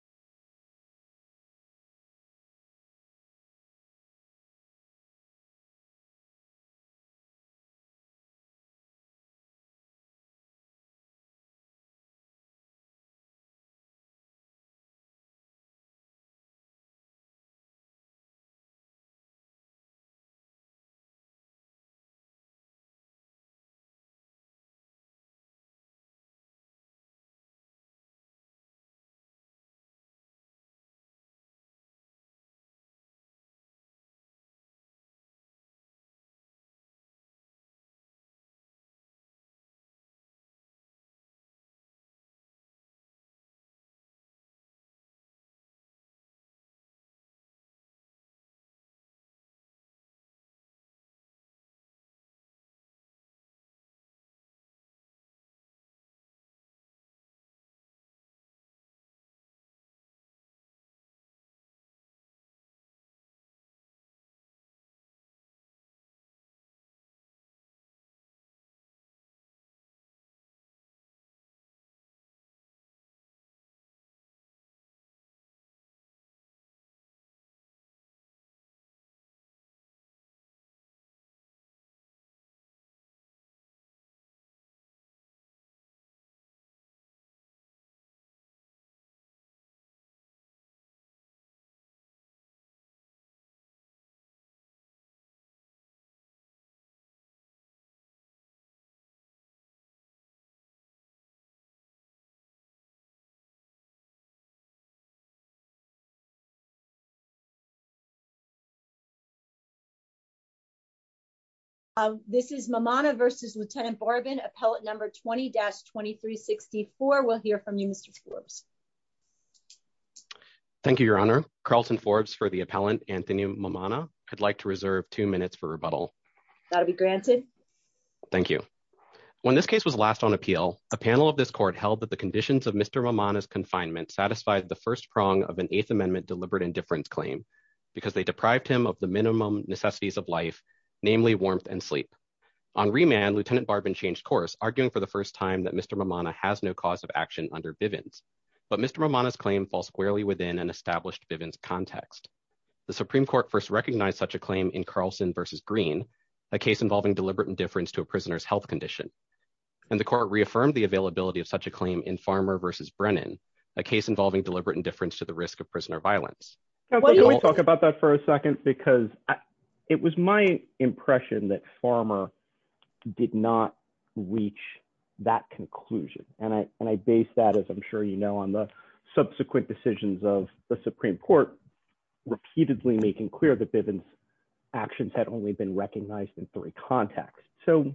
... Thank you, Your Honor, Carlton Forbes for the appellant, Anthony Mamona, I'd like to reserve two minutes for rebuttal. That'll be granted. Thank you. When this case was last on appeal, a panel of this court held that the conditions of Mr mom on his confinement satisfied the first prong of an eighth amendment deliberate indifference claim, because they deprived him of the minimum necessities of life, namely warmth and sleep on remand, Lieutenant Barbon changed course, arguing for the first time that Mr Mamona has no cause of action under Bivens. But Mr Ramona his claim falls squarely within an established Bivens context. The Supreme Court first recognized such a claim in Carlson versus green, a case involving deliberate indifference to a prisoner's health condition. And the court reaffirmed the availability of such a claim in farmer versus Brennan, a case involving deliberate indifference to the risk of prisoner violence. Can we talk about that for a second because it was my impression that farmer did not reach that conclusion, and I, and I based that as I'm sure you know on the subsequent decisions of the Supreme Court repeatedly making clear the Bivens actions had only been recognized in three contexts. So,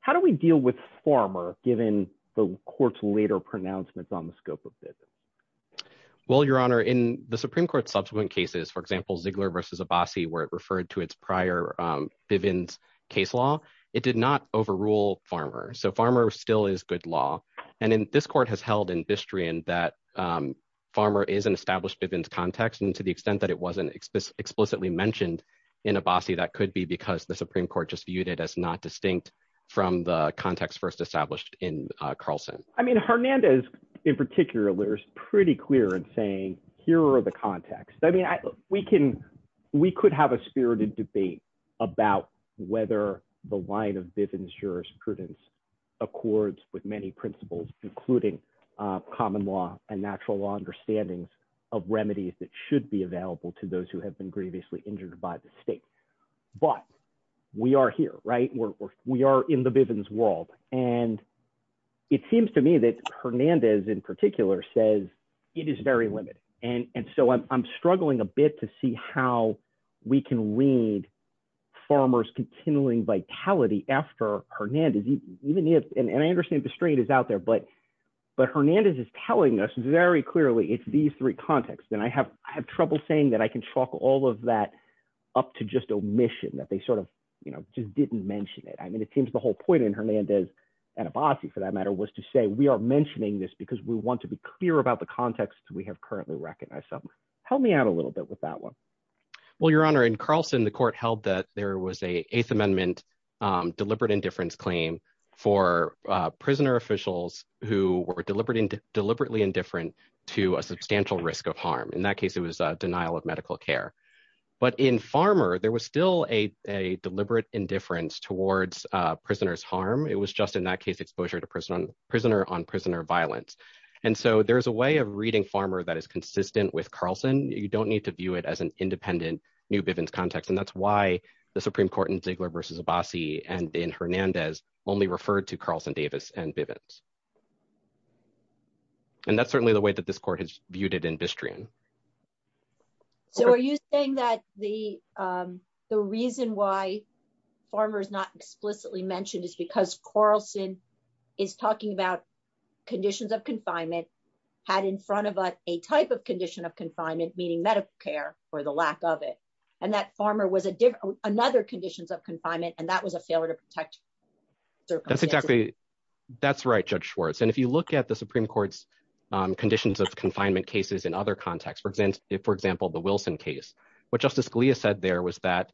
how do we deal with farmer, given the courts later pronouncements on the scope of business. Well, Your Honor in the Supreme Court subsequent cases for example Ziegler versus a bossy where it referred to its prior Bivens case law, it did not overrule farmer so farmer still is good law. And in this court has held in history and that farmer is an established events context and to the extent that it wasn't explicitly explicitly mentioned in a bossy that could be because the Supreme Court just viewed it as not distinct from the context that was first established in Carlson, I mean Hernandez, in particular is pretty clear and saying, here are the context I mean we can, we could have a spirited debate about whether the line of business jurisprudence accords with many principles, including common law and natural law understandings of remedies that should be available to those who have been previously injured by the state. But we are here, right, we're, we are in the Bivens world, and it seems to me that Hernandez in particular says it is very limited, and so I'm struggling a bit to see how we can read farmers continuing vitality after Hernandez, even if, and I understand that the state is out there but but Hernandez is telling us very clearly it's these three contexts and I have, I have trouble saying that I can talk all of that, up to just omission that they sort of, you know, just didn't mention it I mean it seems the whole point in Hernandez and a bossy for that matter was to say we are mentioning this because we want to be clear about the context we have currently recognize some help me out a little bit with that one. Well, your honor and Carlson the court held that there was a eighth amendment deliberate indifference claim for prisoner officials who were deliberately deliberately indifferent to a substantial risk of harm in that case it was a denial of medical care. But in farmer there was still a deliberate indifference towards prisoners harm it was just in that case exposure to prison prisoner on prisoner violence. And so there's a way of reading farmer that is consistent with Carlson, you don't need to view it as an independent new business context and that's why the Supreme Court and Ziegler versus a bossy and in Hernandez only referred to Carlson Davis and vivid. And that's certainly the way that this court has viewed it in history. So are you saying that the, the reason why farmers not explicitly mentioned is because Carlson is talking about conditions of confinement had in front of a type of condition of confinement meeting medical care, or the lack of it, and that farmer was a different another conditions of confinement and that was a failure to protect. That's exactly. That's right, Judge Schwartz and if you look at the Supreme Court's conditions of confinement cases and other contexts for example, for example, the Wilson case, but Justice Scalia said there was that,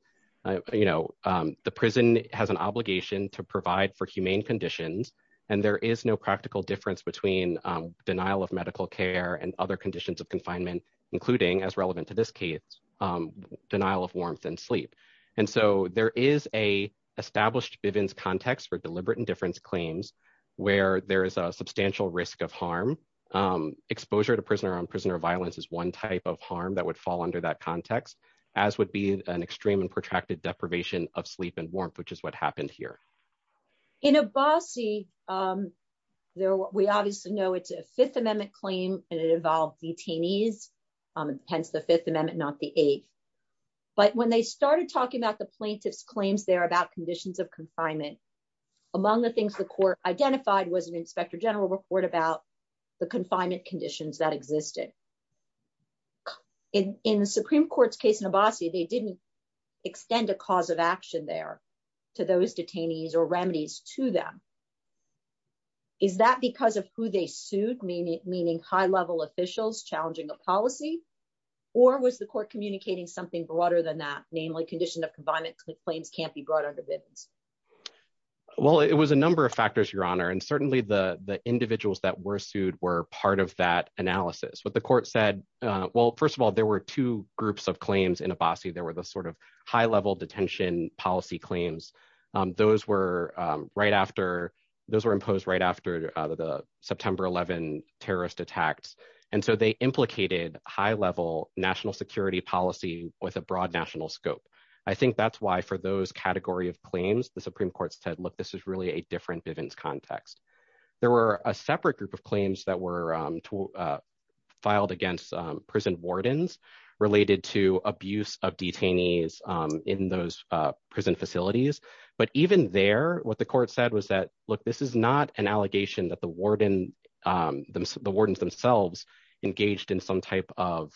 you know, the prison has an obligation to provide for humane conditions, and there is no practical difference between denial of medical care and other conditions of confinement, including as relevant to this case. Denial of warmth and sleep. And so there is a established evidence context for deliberate indifference claims, where there is a substantial risk of harm exposure to prisoner on prisoner violence is one type of harm that would fall under that context, as would be an extreme and protracted deprivation of sleep and warmth, which is what happened here in a bossy. There, we obviously know it's a Fifth Amendment claim, and it involved detainees, hence the Fifth Amendment, not the eighth. But when they started talking about the plaintiffs claims there about conditions of confinement. Among the things the court identified was an inspector general report about the confinement conditions that existed in the Supreme Court's case in a bossy they didn't extend a cause of action there to those detainees or remedies to them. Is that because of who they sued meaning meaning high level officials challenging a policy, or was the court communicating something broader than that, namely condition of confinement claims can't be brought under business. Well, it was a number of factors, Your Honor and certainly the the individuals that were sued were part of that analysis with the court said, Well, first of all, there were two groups of claims in a bossy there were the sort of high level detention policy claims. Those were right after those were imposed right after the September 11 terrorist attacks. And so they implicated high level national security policy with a broad national scope. I think that's why for those category of claims the Supreme Court said look this is really a different events context. There were a separate group of claims that were filed against prison wardens related to abuse of detainees in those prison facilities, but even there, what the court said was that, look, this is not an allegation that the warden. The wardens themselves engaged in some type of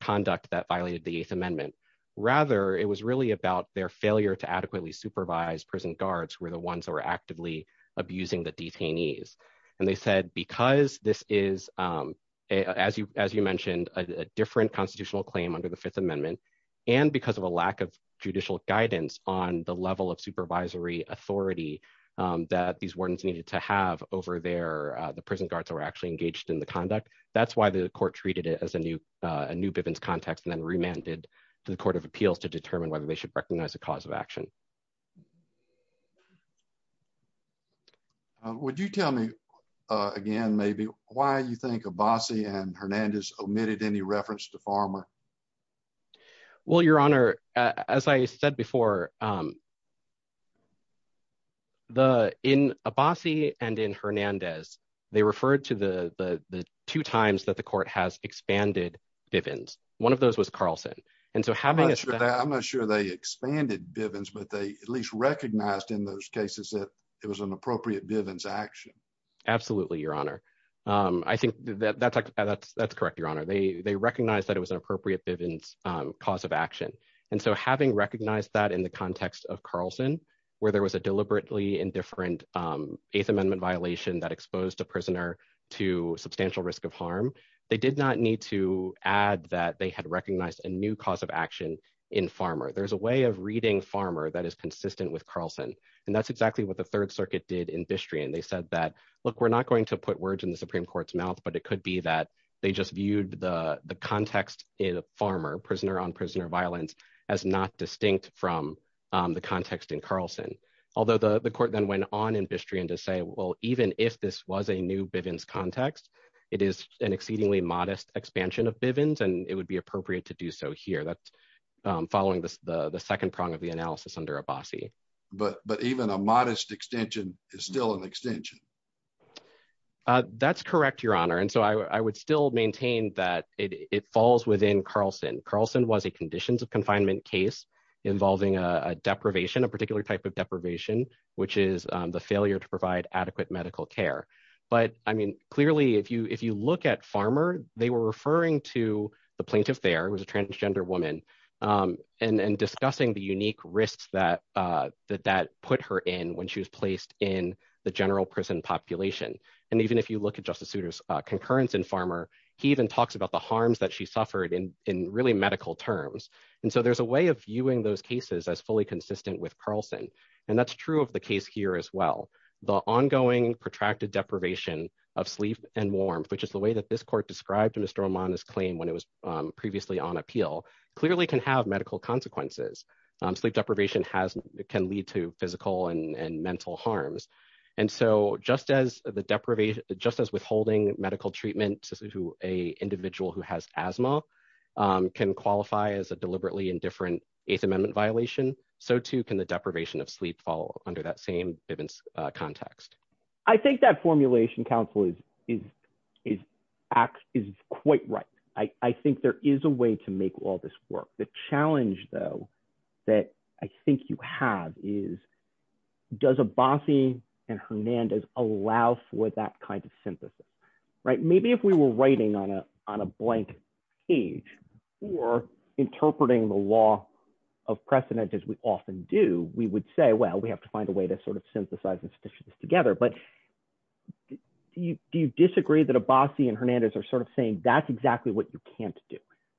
conduct that violated the Eighth Amendment. Rather, it was really about their failure to adequately supervise prison guards were the ones that were actively abusing the detainees, and they said because this That's why the court treated it as a new, a new business context and then remanded to the Court of Appeals to determine whether they should recognize the cause of action. Would you tell me again maybe why you think a bossy and Hernandez omitted any reference to farmer. Well, Your Honor, as I said before, the in a bossy and in Hernandez, they referred to the two times that the court has expanded Bivens. One of those was Carlson. And so having that I'm not sure they expanded Bivens but they at least recognized in those cases that it was an appropriate Absolutely, Your Honor. I think that that's that's that's correct, Your Honor, they they recognize that it was an appropriate Bivens cause of action. And so having recognized that in the context of Carlson, where there was a deliberately indifferent Eighth Amendment violation that exposed a prisoner to substantial risk of harm. They did not need to add that they had recognized a new cause of action in farmer there's a way of reading farmer that is consistent with Carlson. And that's exactly what the Third Circuit did industry and they said that, look, we're not going to put words in the Supreme Court's mouth but it could be that they just viewed the context in a farmer prisoner on prisoner violence as not distinct from the context. It is an exceedingly modest expansion of Bivens and it would be appropriate to do so here that's following the second prong of the analysis under a bossy, but but even a modest extension is still an extension. That's correct, Your Honor, and so I would still maintain that it falls within Carlson Carlson was a conditions of confinement case involving a deprivation a particular type of deprivation, which is the failure to provide adequate medical care. But, I mean, clearly if you if you look at farmer, they were referring to the plaintiff there was a transgender woman, and discussing the unique risks that that that put her in when she was placed in the general prison population. And even if you look at justice suitors concurrence and farmer. He even talks about the harms that she suffered in in really medical terms. And so there's a way of viewing those cases as fully consistent with Carlson. And that's true of the case here as well. The ongoing protracted deprivation of sleep and warm, which is the way that this court described in a storm on his claim when it was previously on appeal, clearly can have medical consequences sleep deprivation can lead to physical and mental harms. And so, just as the deprivation, just as withholding medical treatment to a individual who has asthma can qualify as a deliberately indifferent. Eighth Amendment violation. So too can the deprivation of sleep fall under that same context. I think that formulation counsel is, is, is, is quite right. I think there is a way to make all this work the challenge though that I think you have is does a bossy and Hernandez allow for that kind of synthesis. Right, maybe if we were writing on a, on a blank page, or interpreting the law of precedent as we often do, we would say well we have to find a way to sort of synthesize this together but you do you disagree that a bossy and Hernandez are sort of saying that's exactly what you can't do.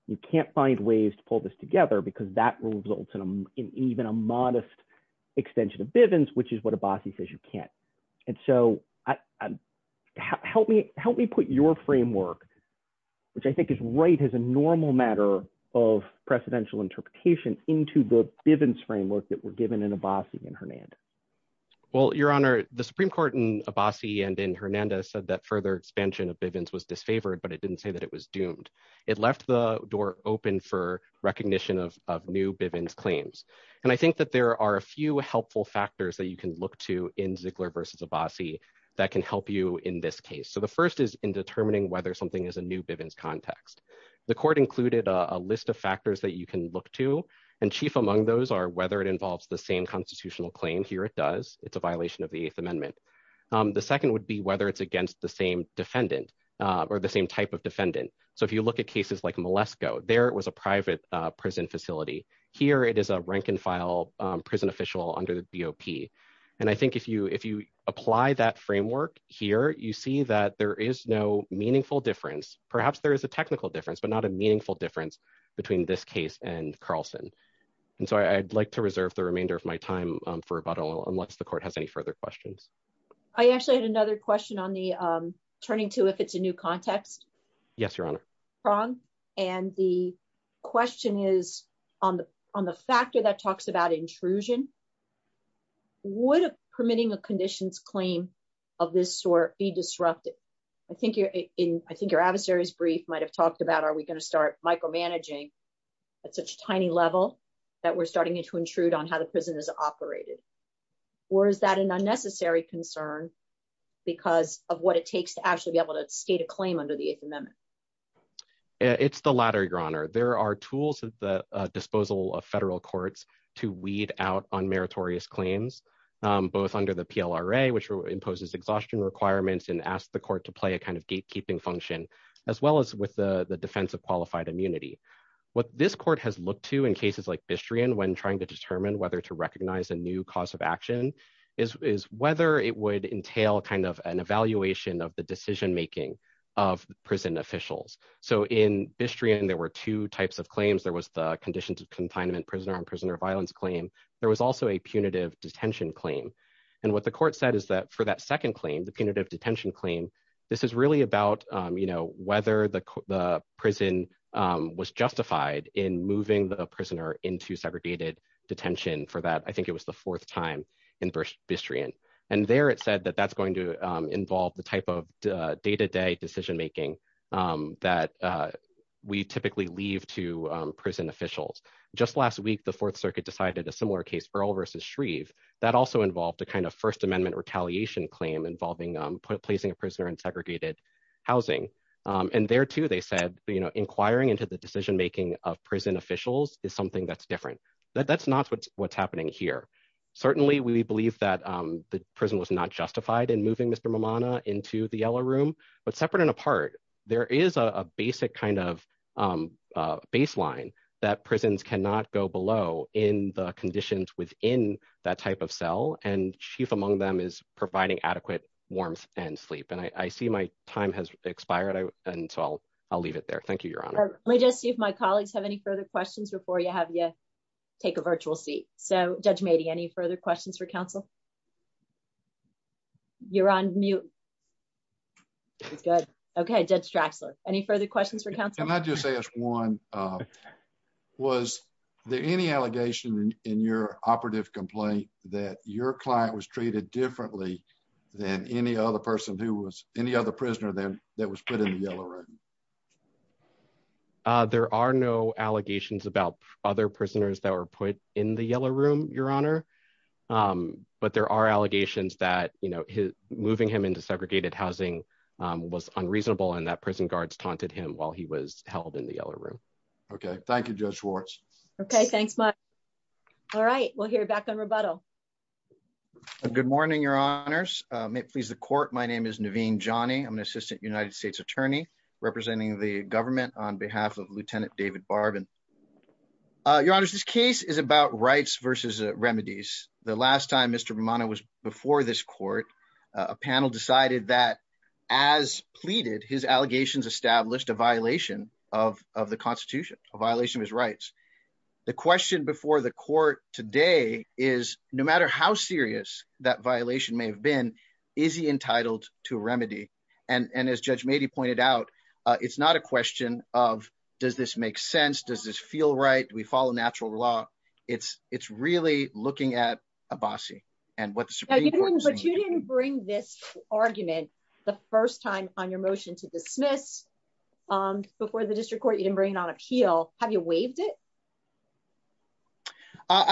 You can't find ways to pull this together because that results in even a modest extension of Bivens which is what a bossy says you can't. And so, I help me help me put your framework, which I think is right as a normal matter of presidential interpretation into the Bivens framework that were given in a bossy and Hernandez. Well, Your Honor, the Supreme Court in a bossy and in Hernandez said that further expansion of Bivens was disfavored but it didn't say that it was doomed. It left the door open for recognition of new Bivens claims. And I think that there are a few helpful factors that you can look to in Ziegler versus a bossy that can help you in this case. So the first is in determining whether something is a new Bivens context. The court included a list of factors that you can look to and chief among those are whether it involves the same constitutional claim here it does, it's a violation of the Eighth Amendment. The second would be whether it's against the same defendant, or the same type of defendant. So if you look at cases like molesto there was a private prison facility. Here it is a rank and file prison official under the BOP. And I think if you if you apply that framework here you see that there is no meaningful difference, perhaps there is a technical difference but not a meaningful difference between this case and Carlson. And so I'd like to reserve the remainder of my time for about a little unless the court has any further questions. I actually had another question on the turning to if it's a new context. Yes, Your Honor, wrong. And the question is, on the, on the factor that talks about intrusion would permitting a conditions claim of this or be disrupted. I think you're in, I think your adversaries brief might have talked about are we going to start micromanaging at such tiny level that we're starting to intrude on how the prison is operated. Or is that an unnecessary concern, because of what it takes to actually be able to state a claim under the Eighth Amendment. It's the latter Your Honor, there are tools at the disposal of federal courts to weed out on meritorious claims, both under the PLRA which imposes exhaustion requirements and ask the court to play a kind of gatekeeping function, as well as with the the defense of qualified immunity. What this court has looked to in cases like history and when trying to determine whether to recognize a new cause of action is whether it would entail kind of an evaluation of the decision making of prison officials. So in history and there were two types of claims there was the condition to confinement prisoner and prisoner violence claim. There was also a punitive detention claim. And what the court said is that for that second claim the punitive detention claim. This is really about, you know, whether the prison was justified in moving the prisoner into segregated detention for that I think it was the fourth time in burst history and, and there it said that that's going to involve the type of day to day decision making that we typically leave to prison officials, just last week the Fourth Circuit decided a similar case for all versus Shreve that also involved the kind of First Amendment retaliation claim involving placing a prisoner in segregated housing. And there too they said, you know, inquiring into the decision making of prison officials is something that's different. That's not what's what's happening here. Certainly we believe that the prison was not justified and moving Mr mamana into the yellow room, but separate and apart. There is a basic kind of baseline that prisons cannot go below in the conditions within that type of cell and chief among them is providing adequate warmth and sleep and I see my time has expired. And so I'll, I'll leave it there. Thank you, Your Honor. Let me just see if my colleagues have any further questions before you have yet. Take a virtual seat, so judge maybe any further questions for counsel. You're on mute. Good. Okay, did Stratzler, any further questions for counsel and I just say as one was there any allegation in your operative complaint that your client was treated differently than any other person who was any other prisoner than that was put in the yellow room. There are no allegations about other prisoners that were put in the yellow room, Your Honor. But there are allegations that, you know, moving him into segregated housing was unreasonable and that prison guards taunted him while he was held in the yellow room. Okay, thank you. Okay, thanks. All right, we'll hear back on rebuttal. Good morning, Your Honors. May it please the court. My name is Naveen Johnny I'm an assistant United States Attorney, representing the government on behalf of Lieutenant David Barbin. Your Honor, this case is about rights versus remedies. The last time Mr Romano was before this court, a panel decided that as pleaded his allegations established a violation of the Constitution, a violation of his rights. The question before the court today is, no matter how serious that violation may have been, is he entitled to remedy, and as Judge Mady pointed out, it's not a question of, does this make sense does this feel right we follow natural law, it's, it's really I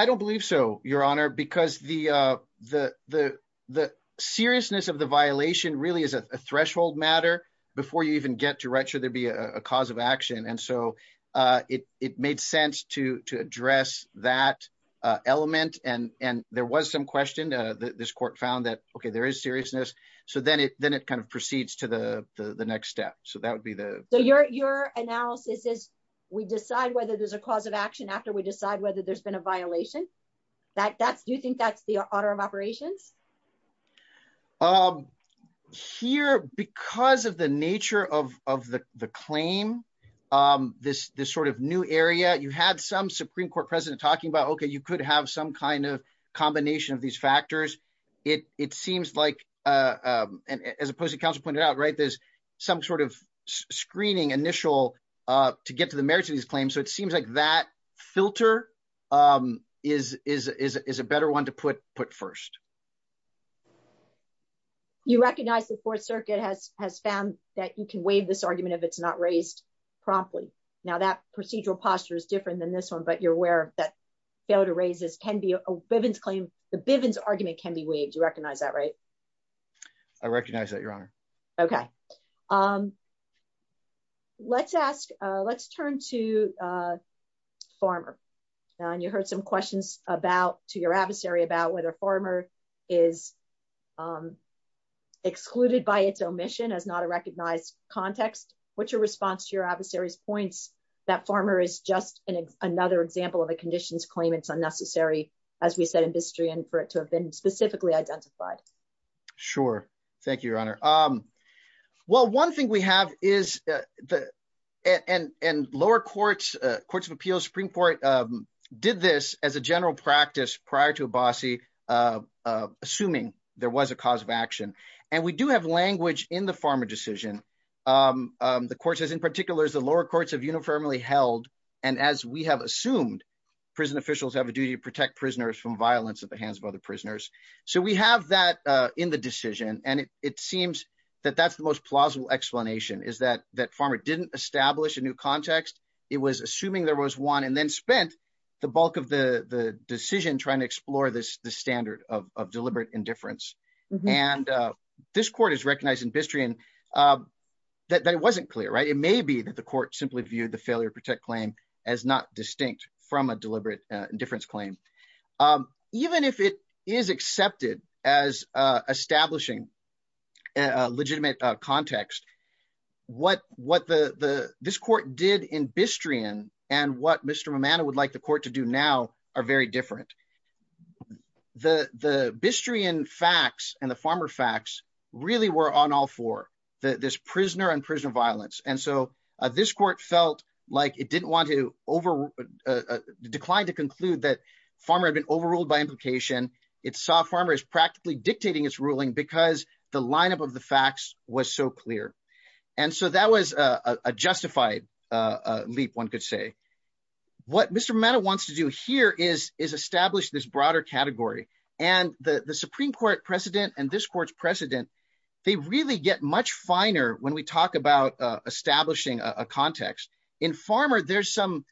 don't believe so, Your Honor, because the, the, the seriousness of the violation really is a threshold matter before you even get to write sure there'd be a cause of action and so it made sense to to address that element and, and there was some question that this court found that okay there is seriousness. So then it then it kind of proceeds to the next step. So that would be the, your, your analysis is, we decide whether there's a cause of action after we decide whether there's been a violation that that's do you think that's your honor of operations. I'm here because of the nature of the, the claim. This, this sort of new area you had some Supreme Court President talking about okay you could have some kind of combination of these factors. It, it seems like, as opposed to counsel pointed out right there's some sort of screening initial to get to the merits of these claims so it seems like that filter is, is, is a better one to put put first. You recognize the Fourth Circuit has has found that you can waive this argument of it's not raised properly. Now that procedural posture is different than this one but you're aware that fail to raise this can be a Bivens claim, the Bivens argument can be waived you recognize that right. I recognize that your honor. Okay. Um, let's ask, let's turn to farmer. And you heard some questions about to your adversary about whether farmer is excluded by its omission as not a recognized context, which are response to your adversaries points that farmer is just an another example of a conditions claim it's unnecessary. As we said industry and for it to have been specifically identified. Sure. Thank you, Your Honor. Um, well one thing we have is the and and lower courts, courts of appeals Supreme Court did this as a general practice prior to a bossy assuming there was a cause of action, and we do have language in the farmer decision. The courses in particular is the lower courts have uniformly held. And as we have assumed prison officials have a duty to protect prisoners from violence at the hands of other prisoners. So we have that in the decision, and it seems that that's the most plausible explanation is that that farmer didn't establish a new context. It was assuming there was one and then spent the bulk of the decision trying to explore this the standard of deliberate indifference. And this court is recognized industry and that it wasn't clear right it may be that the court simply viewed the failure to protect claim as not distinct from a deliberate indifference claim. Even if it is accepted as establishing a legitimate context, what what the this court did in history and, and what Mr Romano would like the court to do now are very different. The, the history and facts and the farmer facts really were on all for the this prisoner and prisoner violence and so this court felt like it didn't want to over declined to conclude that farmer been overruled by implication, it saw farmers practically dictating its ruling because the lineup of the facts was so clear. And so that was a justified leap one could say. What Mr matter wants to do here is is establish this broader category, and the Supreme Court precedent and this court's precedent. They really get much finer when we talk about establishing a context in farmer there's some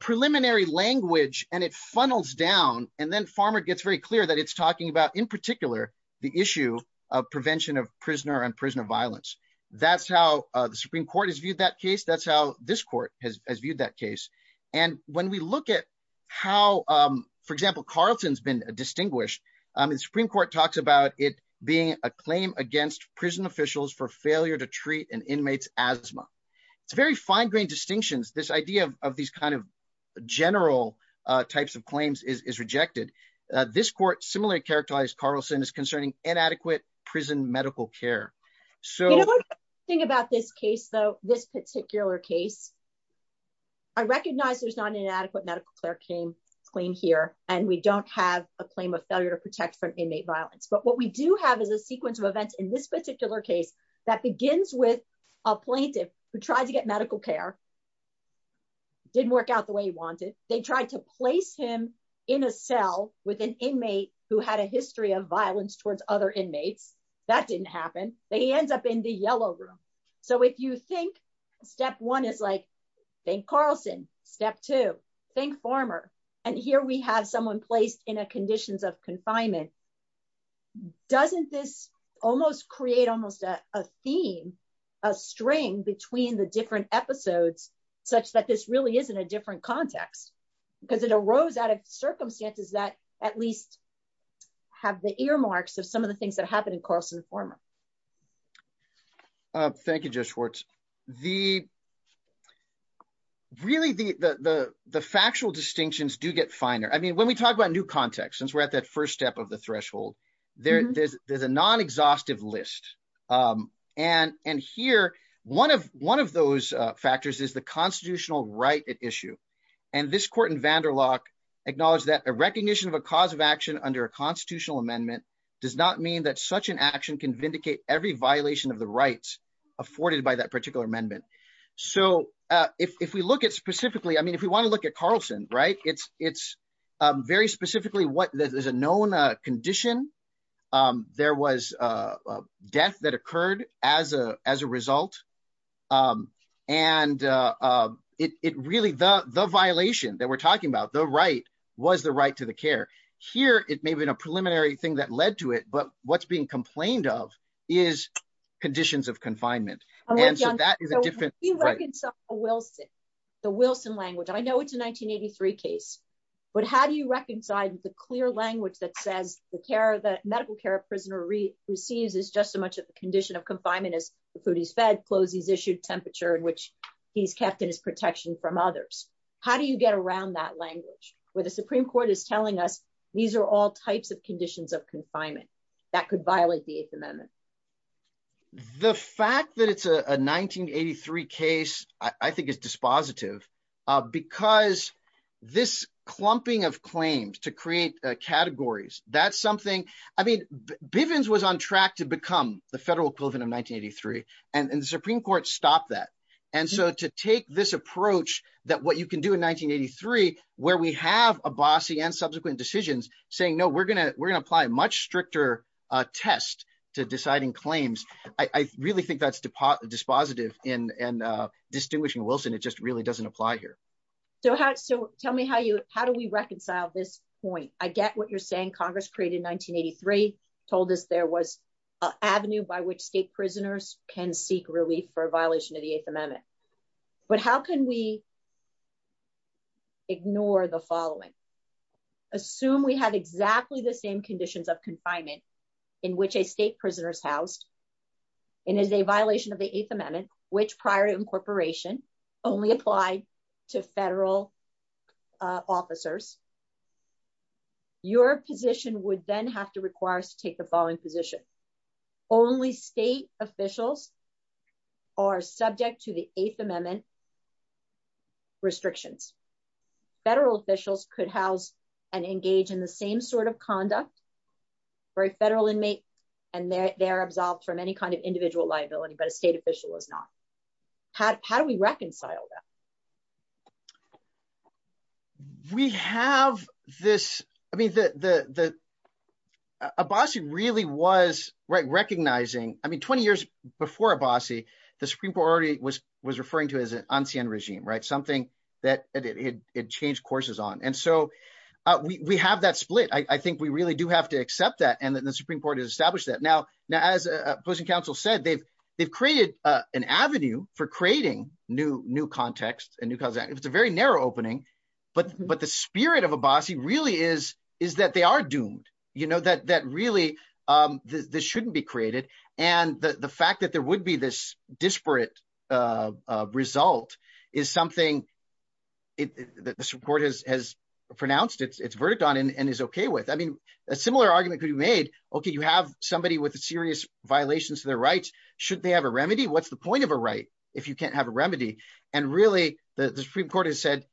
preliminary language, and it funnels down, and then farmer gets very clear that it's talking about in particular, the issue of prevention of prisoner and that's how this court has viewed that case. And when we look at how, for example, Carlton has been distinguished the Supreme Court talks about it being a claim against prison officials for failure to treat an inmate's asthma. It's very fine grained distinctions this idea of these kind of general types of claims is rejected this court similarly characterized Carlson is concerning inadequate prison medical care. So, think about this case though, this particular case. I recognize there's not an inadequate medical care came clean here, and we don't have a claim of failure to protect from inmate violence but what we do have is a sequence of events in this particular case that begins with a plaintiff who tried to get medical care. Didn't work out the way he wanted, they tried to place him in a cell with an inmate who had a history of violence towards other inmates. That didn't happen, they ends up in the yellow room. So if you think step one is like, think Carlson step to think former. And here we have someone placed in a conditions of confinement. Doesn't this almost create almost a theme, a string between the different episodes, such that this really isn't a different context, because it arose out of circumstances that at least have the earmarks of some of the things that happened in Carson former. Thank you just Schwartz, the really the, the, the factual distinctions do get finer I mean when we talk about new context since we're at that first step of the threshold. There's, there's a non exhaustive list. And, and here, one of one of those factors is the constitutional right issue. And this court in Vanderloch acknowledge that a recognition of a cause of action under a constitutional amendment does not mean that such an action can vindicate every violation of the rights afforded by that particular amendment. So, if we look at specifically I mean if we want to look at Carlson right it's it's very specifically what there's a known condition. There was a death that occurred as a, as a result. And it really the the violation that we're talking about the right was the right to the care here, it may have been a preliminary thing that led to it but what's being complained of is conditions of confinement. And that is a different Wilson, the Wilson language I know it's a 1983 case. But how do you reconcile the clear language that says the care that medical care of prisoner re receives is just so much of the condition of confinement is the food he's fed and the clothes he's issued temperature in which he's kept in his protection from others. How do you get around that language, where the Supreme Court is telling us, these are all types of conditions of confinement that could violate the eighth amendment. The fact that it's a 1983 case, I think is dispositive, because this clumping of claims to create categories, that's something I mean, Bivens was on track to become the federal equivalent of 1983, and the Supreme Court stopped that. And so to take this approach that what you can do in 1983, where we have a bossy and subsequent decisions, saying no we're gonna we're gonna apply much stricter test to deciding claims. I really think that's deposit dispositive in and distinguishing Wilson it just really doesn't apply here. So how so tell me how you, how do we reconcile this point, I get what you're saying Congress created 1983 told us there was an avenue by which state prisoners can seek relief for violation of the eighth amendment. But how can we ignore the following. Assume we have exactly the same conditions of confinement, in which a state prisoners housed in is a violation of the eighth amendment, which prior to incorporation only apply to federal officers, your position would then have to require us to take the following position. Only state officials are subject to the eighth amendment restrictions. Federal officials could house and engage in the same sort of conduct for a federal inmate, and they're absolved from any kind of individual liability but a state official is not. How do we reconcile them. We have this, I mean the bossy really was right recognizing, I mean 20 years before a bossy, the Supreme Court already was was referring to as an unseen regime right something that it changed courses on and so we have that split I think we really do have to accept that and the Supreme Court has established that now. Now as a person counsel said they've, they've created an avenue for creating new new context and because it's a very narrow opening. But, but the spirit of a bossy really is, is that they are doomed, you know that that really. This shouldn't be created. And the fact that there would be this disparate result is something that the Supreme Court has has pronounced its verdict on and is okay with I mean a similar argument could be made. Okay, you have somebody with a serious violations of their rights, should they have a remedy what's the point of a right, if you can't have a remedy, and really, the Supreme Court has said,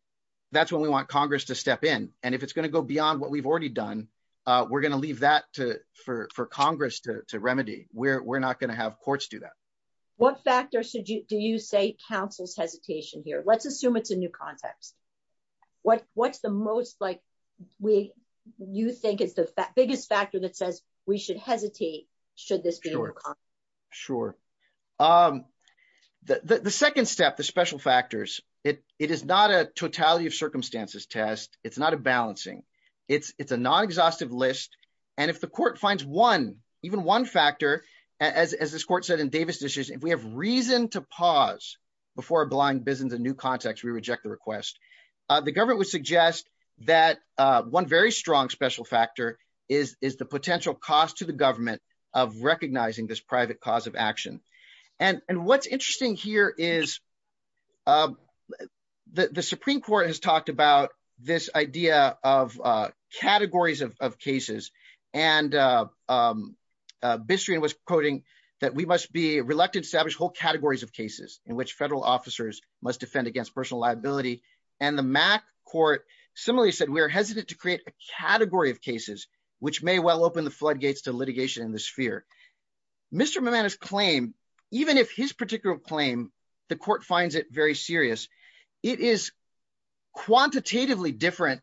that's what we want Congress to step in, and if it's going to go beyond what we've already done. We're going to leave that to for Congress to remedy, we're not going to have courts do that. What factors should you do you say councils hesitation here let's assume it's a new context. What, what's the most like we, you think is the biggest factor that says we should hesitate. Should this be. Sure. The second step the special factors, it is not a totality of circumstances test, it's not a balancing. It's, it's a non exhaustive list. And if the court finds one, even one factor, as this court said in Davis dishes if we have reason to pause before blind business is a new context we reject the request. The government would suggest that one very strong special factor is, is the potential cost to the government of recognizing this private cause of action. And what's interesting here is the Supreme Court has talked about this idea of categories of cases and mystery and was quoting that we must be reluctant establish whole categories of cases in which federal officers must defend against personal liability, and the Even if his particular claim, the court finds it very serious. It is quantitatively different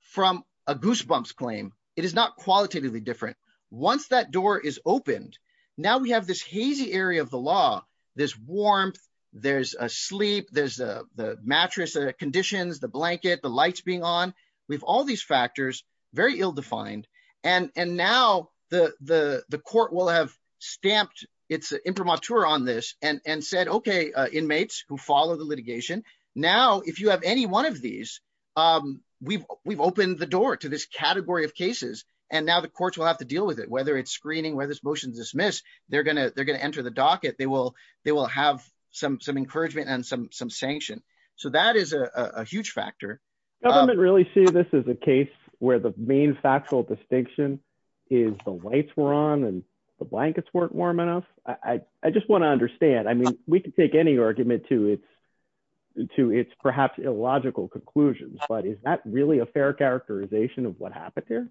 from a goosebumps claim, it is not qualitatively different. Once that door is opened. Now we have this hazy area of the law, this warmth. There's a sleep there's a mattress conditions the blanket the lights being on. We've all these factors, very ill defined, and and now the, the, the court will have stamped. It's imprimatur on this and and said okay inmates who follow the litigation. Now, if you have any one of these. We've, we've opened the door to this category of cases, and now the courts will have to deal with it whether it's screening where this motion dismiss, they're going to, they're going to enter the docket they will they will have some some encouragement and some some sanction. So that is a huge factor. Government really see this as a case where the main factual distinction is the lights were on and the blankets weren't warm enough, I just want to understand. I mean, we can take any argument to its to its perhaps illogical conclusions, but is that really a fair characterization of what happened here.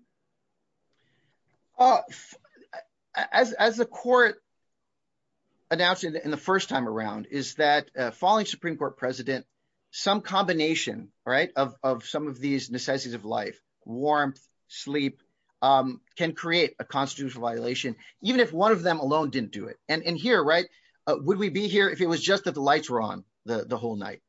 As a court. Announce it in the first time around, is that following Supreme Court President, some combination, right, of some of these necessities of life, warmth, sleep can create a constitutional violation, even if one of them alone didn't do it, and in here right. Would we be here if it was just that the lights were on the whole night.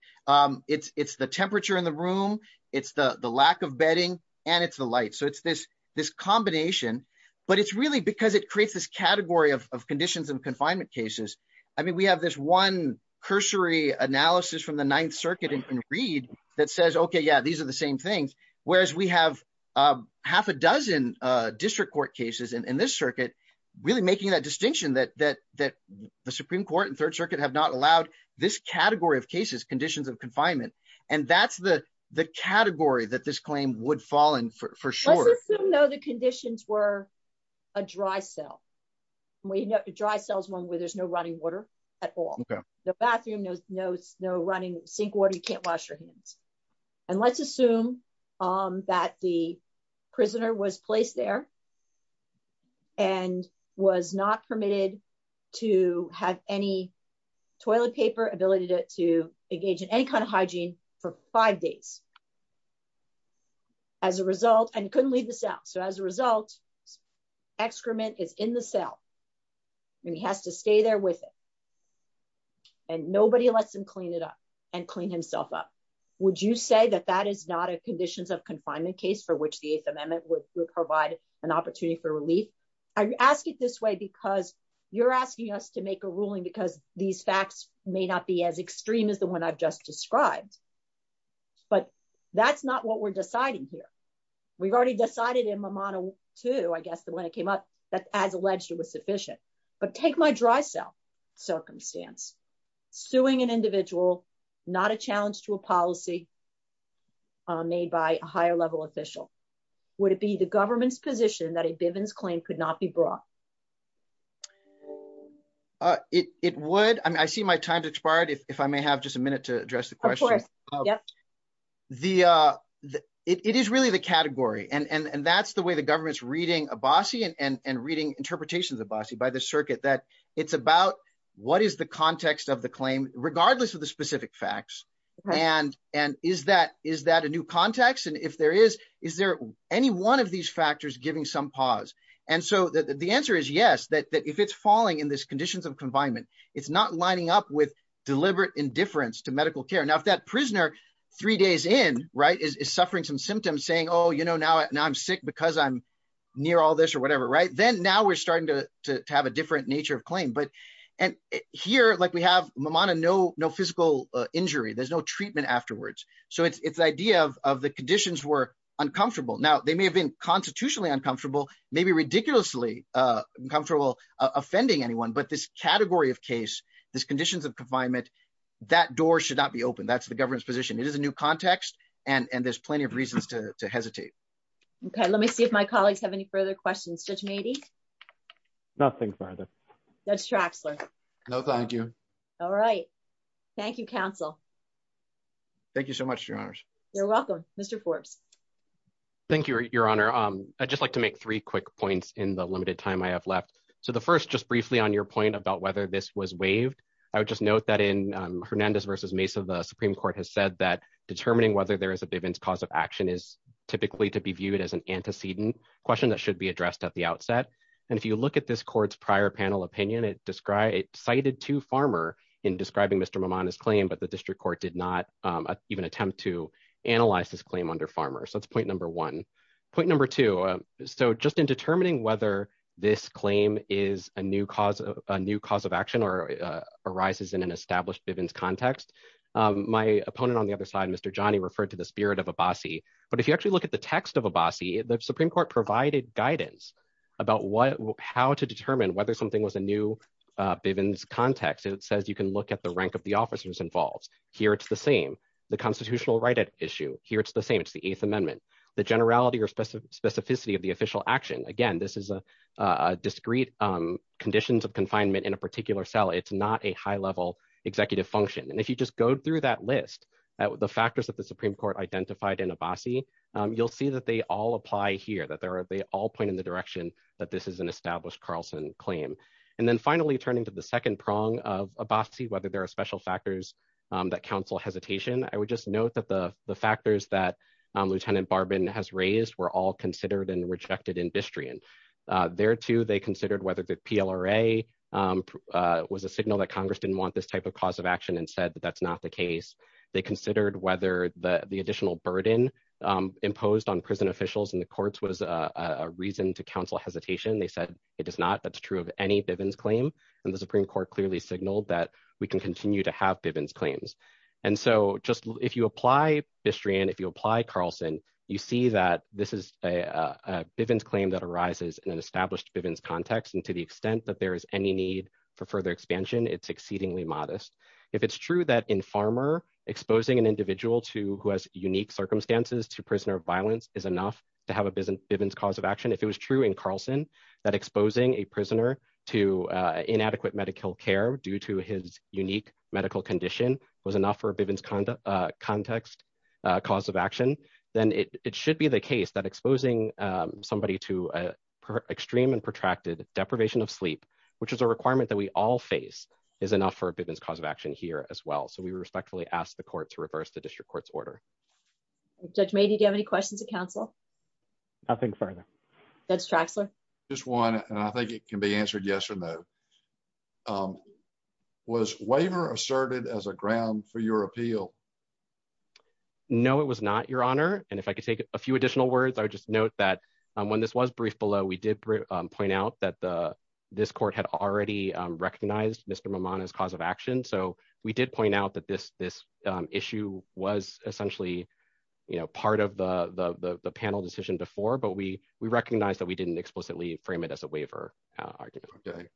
It's the temperature in the room. It's the the lack of bedding, and it's the light so it's this this combination, but it's really because it creates this category of conditions and confinement cases. I mean we have this one cursory analysis from the Ninth Circuit and read that says okay yeah these are the same things, whereas we have half a dozen district court cases in this circuit, really making that distinction that that that the Supreme Court and Third we know to dry cells one where there's no running water at all. The bathroom knows no running sink water you can't wash your hands. And let's assume that the prisoner was placed there and was not permitted to have any toilet paper ability to engage in any kind of hygiene for five days. As a result, and couldn't leave the cell so as a result, excrement is in the cell. And he has to stay there with it. And nobody lets them clean it up and clean himself up. Would you say that that is not a conditions of confinement case for which the eighth amendment would provide an opportunity for relief. I ask it this way because you're asking us to make a ruling because these facts may not be as extreme as the one I've just described. But that's not what we're deciding here. We've already decided in my model to I guess the when it came up that as alleged it was sufficient, but take my dry cell circumstance suing an individual, not a challenge to a policy made by a higher level official. Would it be the government's position that a Bivens claim could not be brought. It would I see my time to try it if I may have just a minute to address the question. The. It is really the category and and that's the way the government's reading a bossy and reading interpretations of bossy by the circuit that it's about what is the context of the claim, regardless of the specific facts, and, and is that is that a new context and if there is, is there any one of these factors giving some pause. And so the answer is yes that if it's falling in this conditions of confinement. It's not lining up with deliberate indifference to medical care now if that prisoner, three days in right is suffering some symptoms saying oh you know now now I'm sick because I'm near all this or whatever right then now we're starting to have a different nature of claim but, and here like we have Mamata no no physical injury there's no treatment afterwards. So it's the idea of the conditions were uncomfortable now they may have been constitutionally uncomfortable, maybe ridiculously comfortable offending anyone but this category of case, this conditions of confinement, that door should not be open that's the government's position it is a new context, and there's plenty of reasons to hesitate. Okay, let me see if my colleagues have any further questions just maybe. Nothing further. That's Traxler. No, thank you. All right. Thank you, counsel. Thank you so much, your honors. You're welcome. Mr Forbes. Thank you, Your Honor, um, I just like to make three quick points in the limited time I have left. So the first just briefly on your point about whether this was waived. I would just note that in Hernandez versus Mesa the Supreme Court has said that determining whether there is a given cause of action is typically to be viewed as an antecedent question that should be addressed at the outset. And if you look at this court's prior panel opinion it described cited to farmer in describing Mr mom on his claim but the district court did not even attempt to analyze this claim under farmer so that's point number one point number two. So, so just in determining whether this claim is a new cause of a new cause of action or arises in an established evidence context. My opponent on the other side Mr johnny referred to the spirit of a bossy, but if you actually look at the text of a bossy the Supreme Court provided guidance about what how to determine whether something was a new business context it says you can look at the rank of the officers involves here it's the same, the constitutional right at issue here it's the same it's the eighth amendment, the generality or specific specificity of the official action again this is a discrete conditions of confinement in a particular cell it's not a high level executive function and if you just go through that list, the factors that the Supreme Court identified in a bossy, you'll see that they all apply here that there are they all point in the direction that this is an established Carlson claim. And then finally turning to the second prong of a bossy whether there are special factors that counsel hesitation, I would just note that the, the factors that Lieutenant bourbon has raised were all considered and rejected industry and there too they is not that's true of any evidence claim, and the Supreme Court clearly signaled that we can continue to have evidence claims. And so just if you apply history and if you apply Carlson, you see that this is a business claim that arises in an established context and to the extent that there is any need for further expansion it's exceedingly modest. If it's true that in farmer exposing an individual to who has unique circumstances to prisoner of violence is enough to have a business business cause of action deprivation of sleep, which is a requirement that we all face is enough for a business cause of action here as well so we respectfully ask the court to reverse the district court's order. Judge me do you have any questions to counsel. I think further. That's Traxler, just one, and I think it can be answered yes or no. Was waiver asserted as a ground for your appeal. No, it was not your honor, and if I could take a few additional words I just note that when this was brief below we did point out that the this court had already recognized Mr mom on his cause of action so we did point out that this this issue was essentially, you know, part of the panel decision before but we we recognize that we didn't explicitly frame it as a waiver. Okay. Thank you.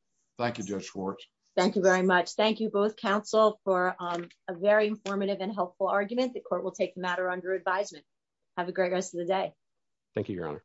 Thank you very much. Thank you both counsel for a very informative and helpful argument the court will take matter under advisement. Have a great rest of the day. Thank you, Your Honor.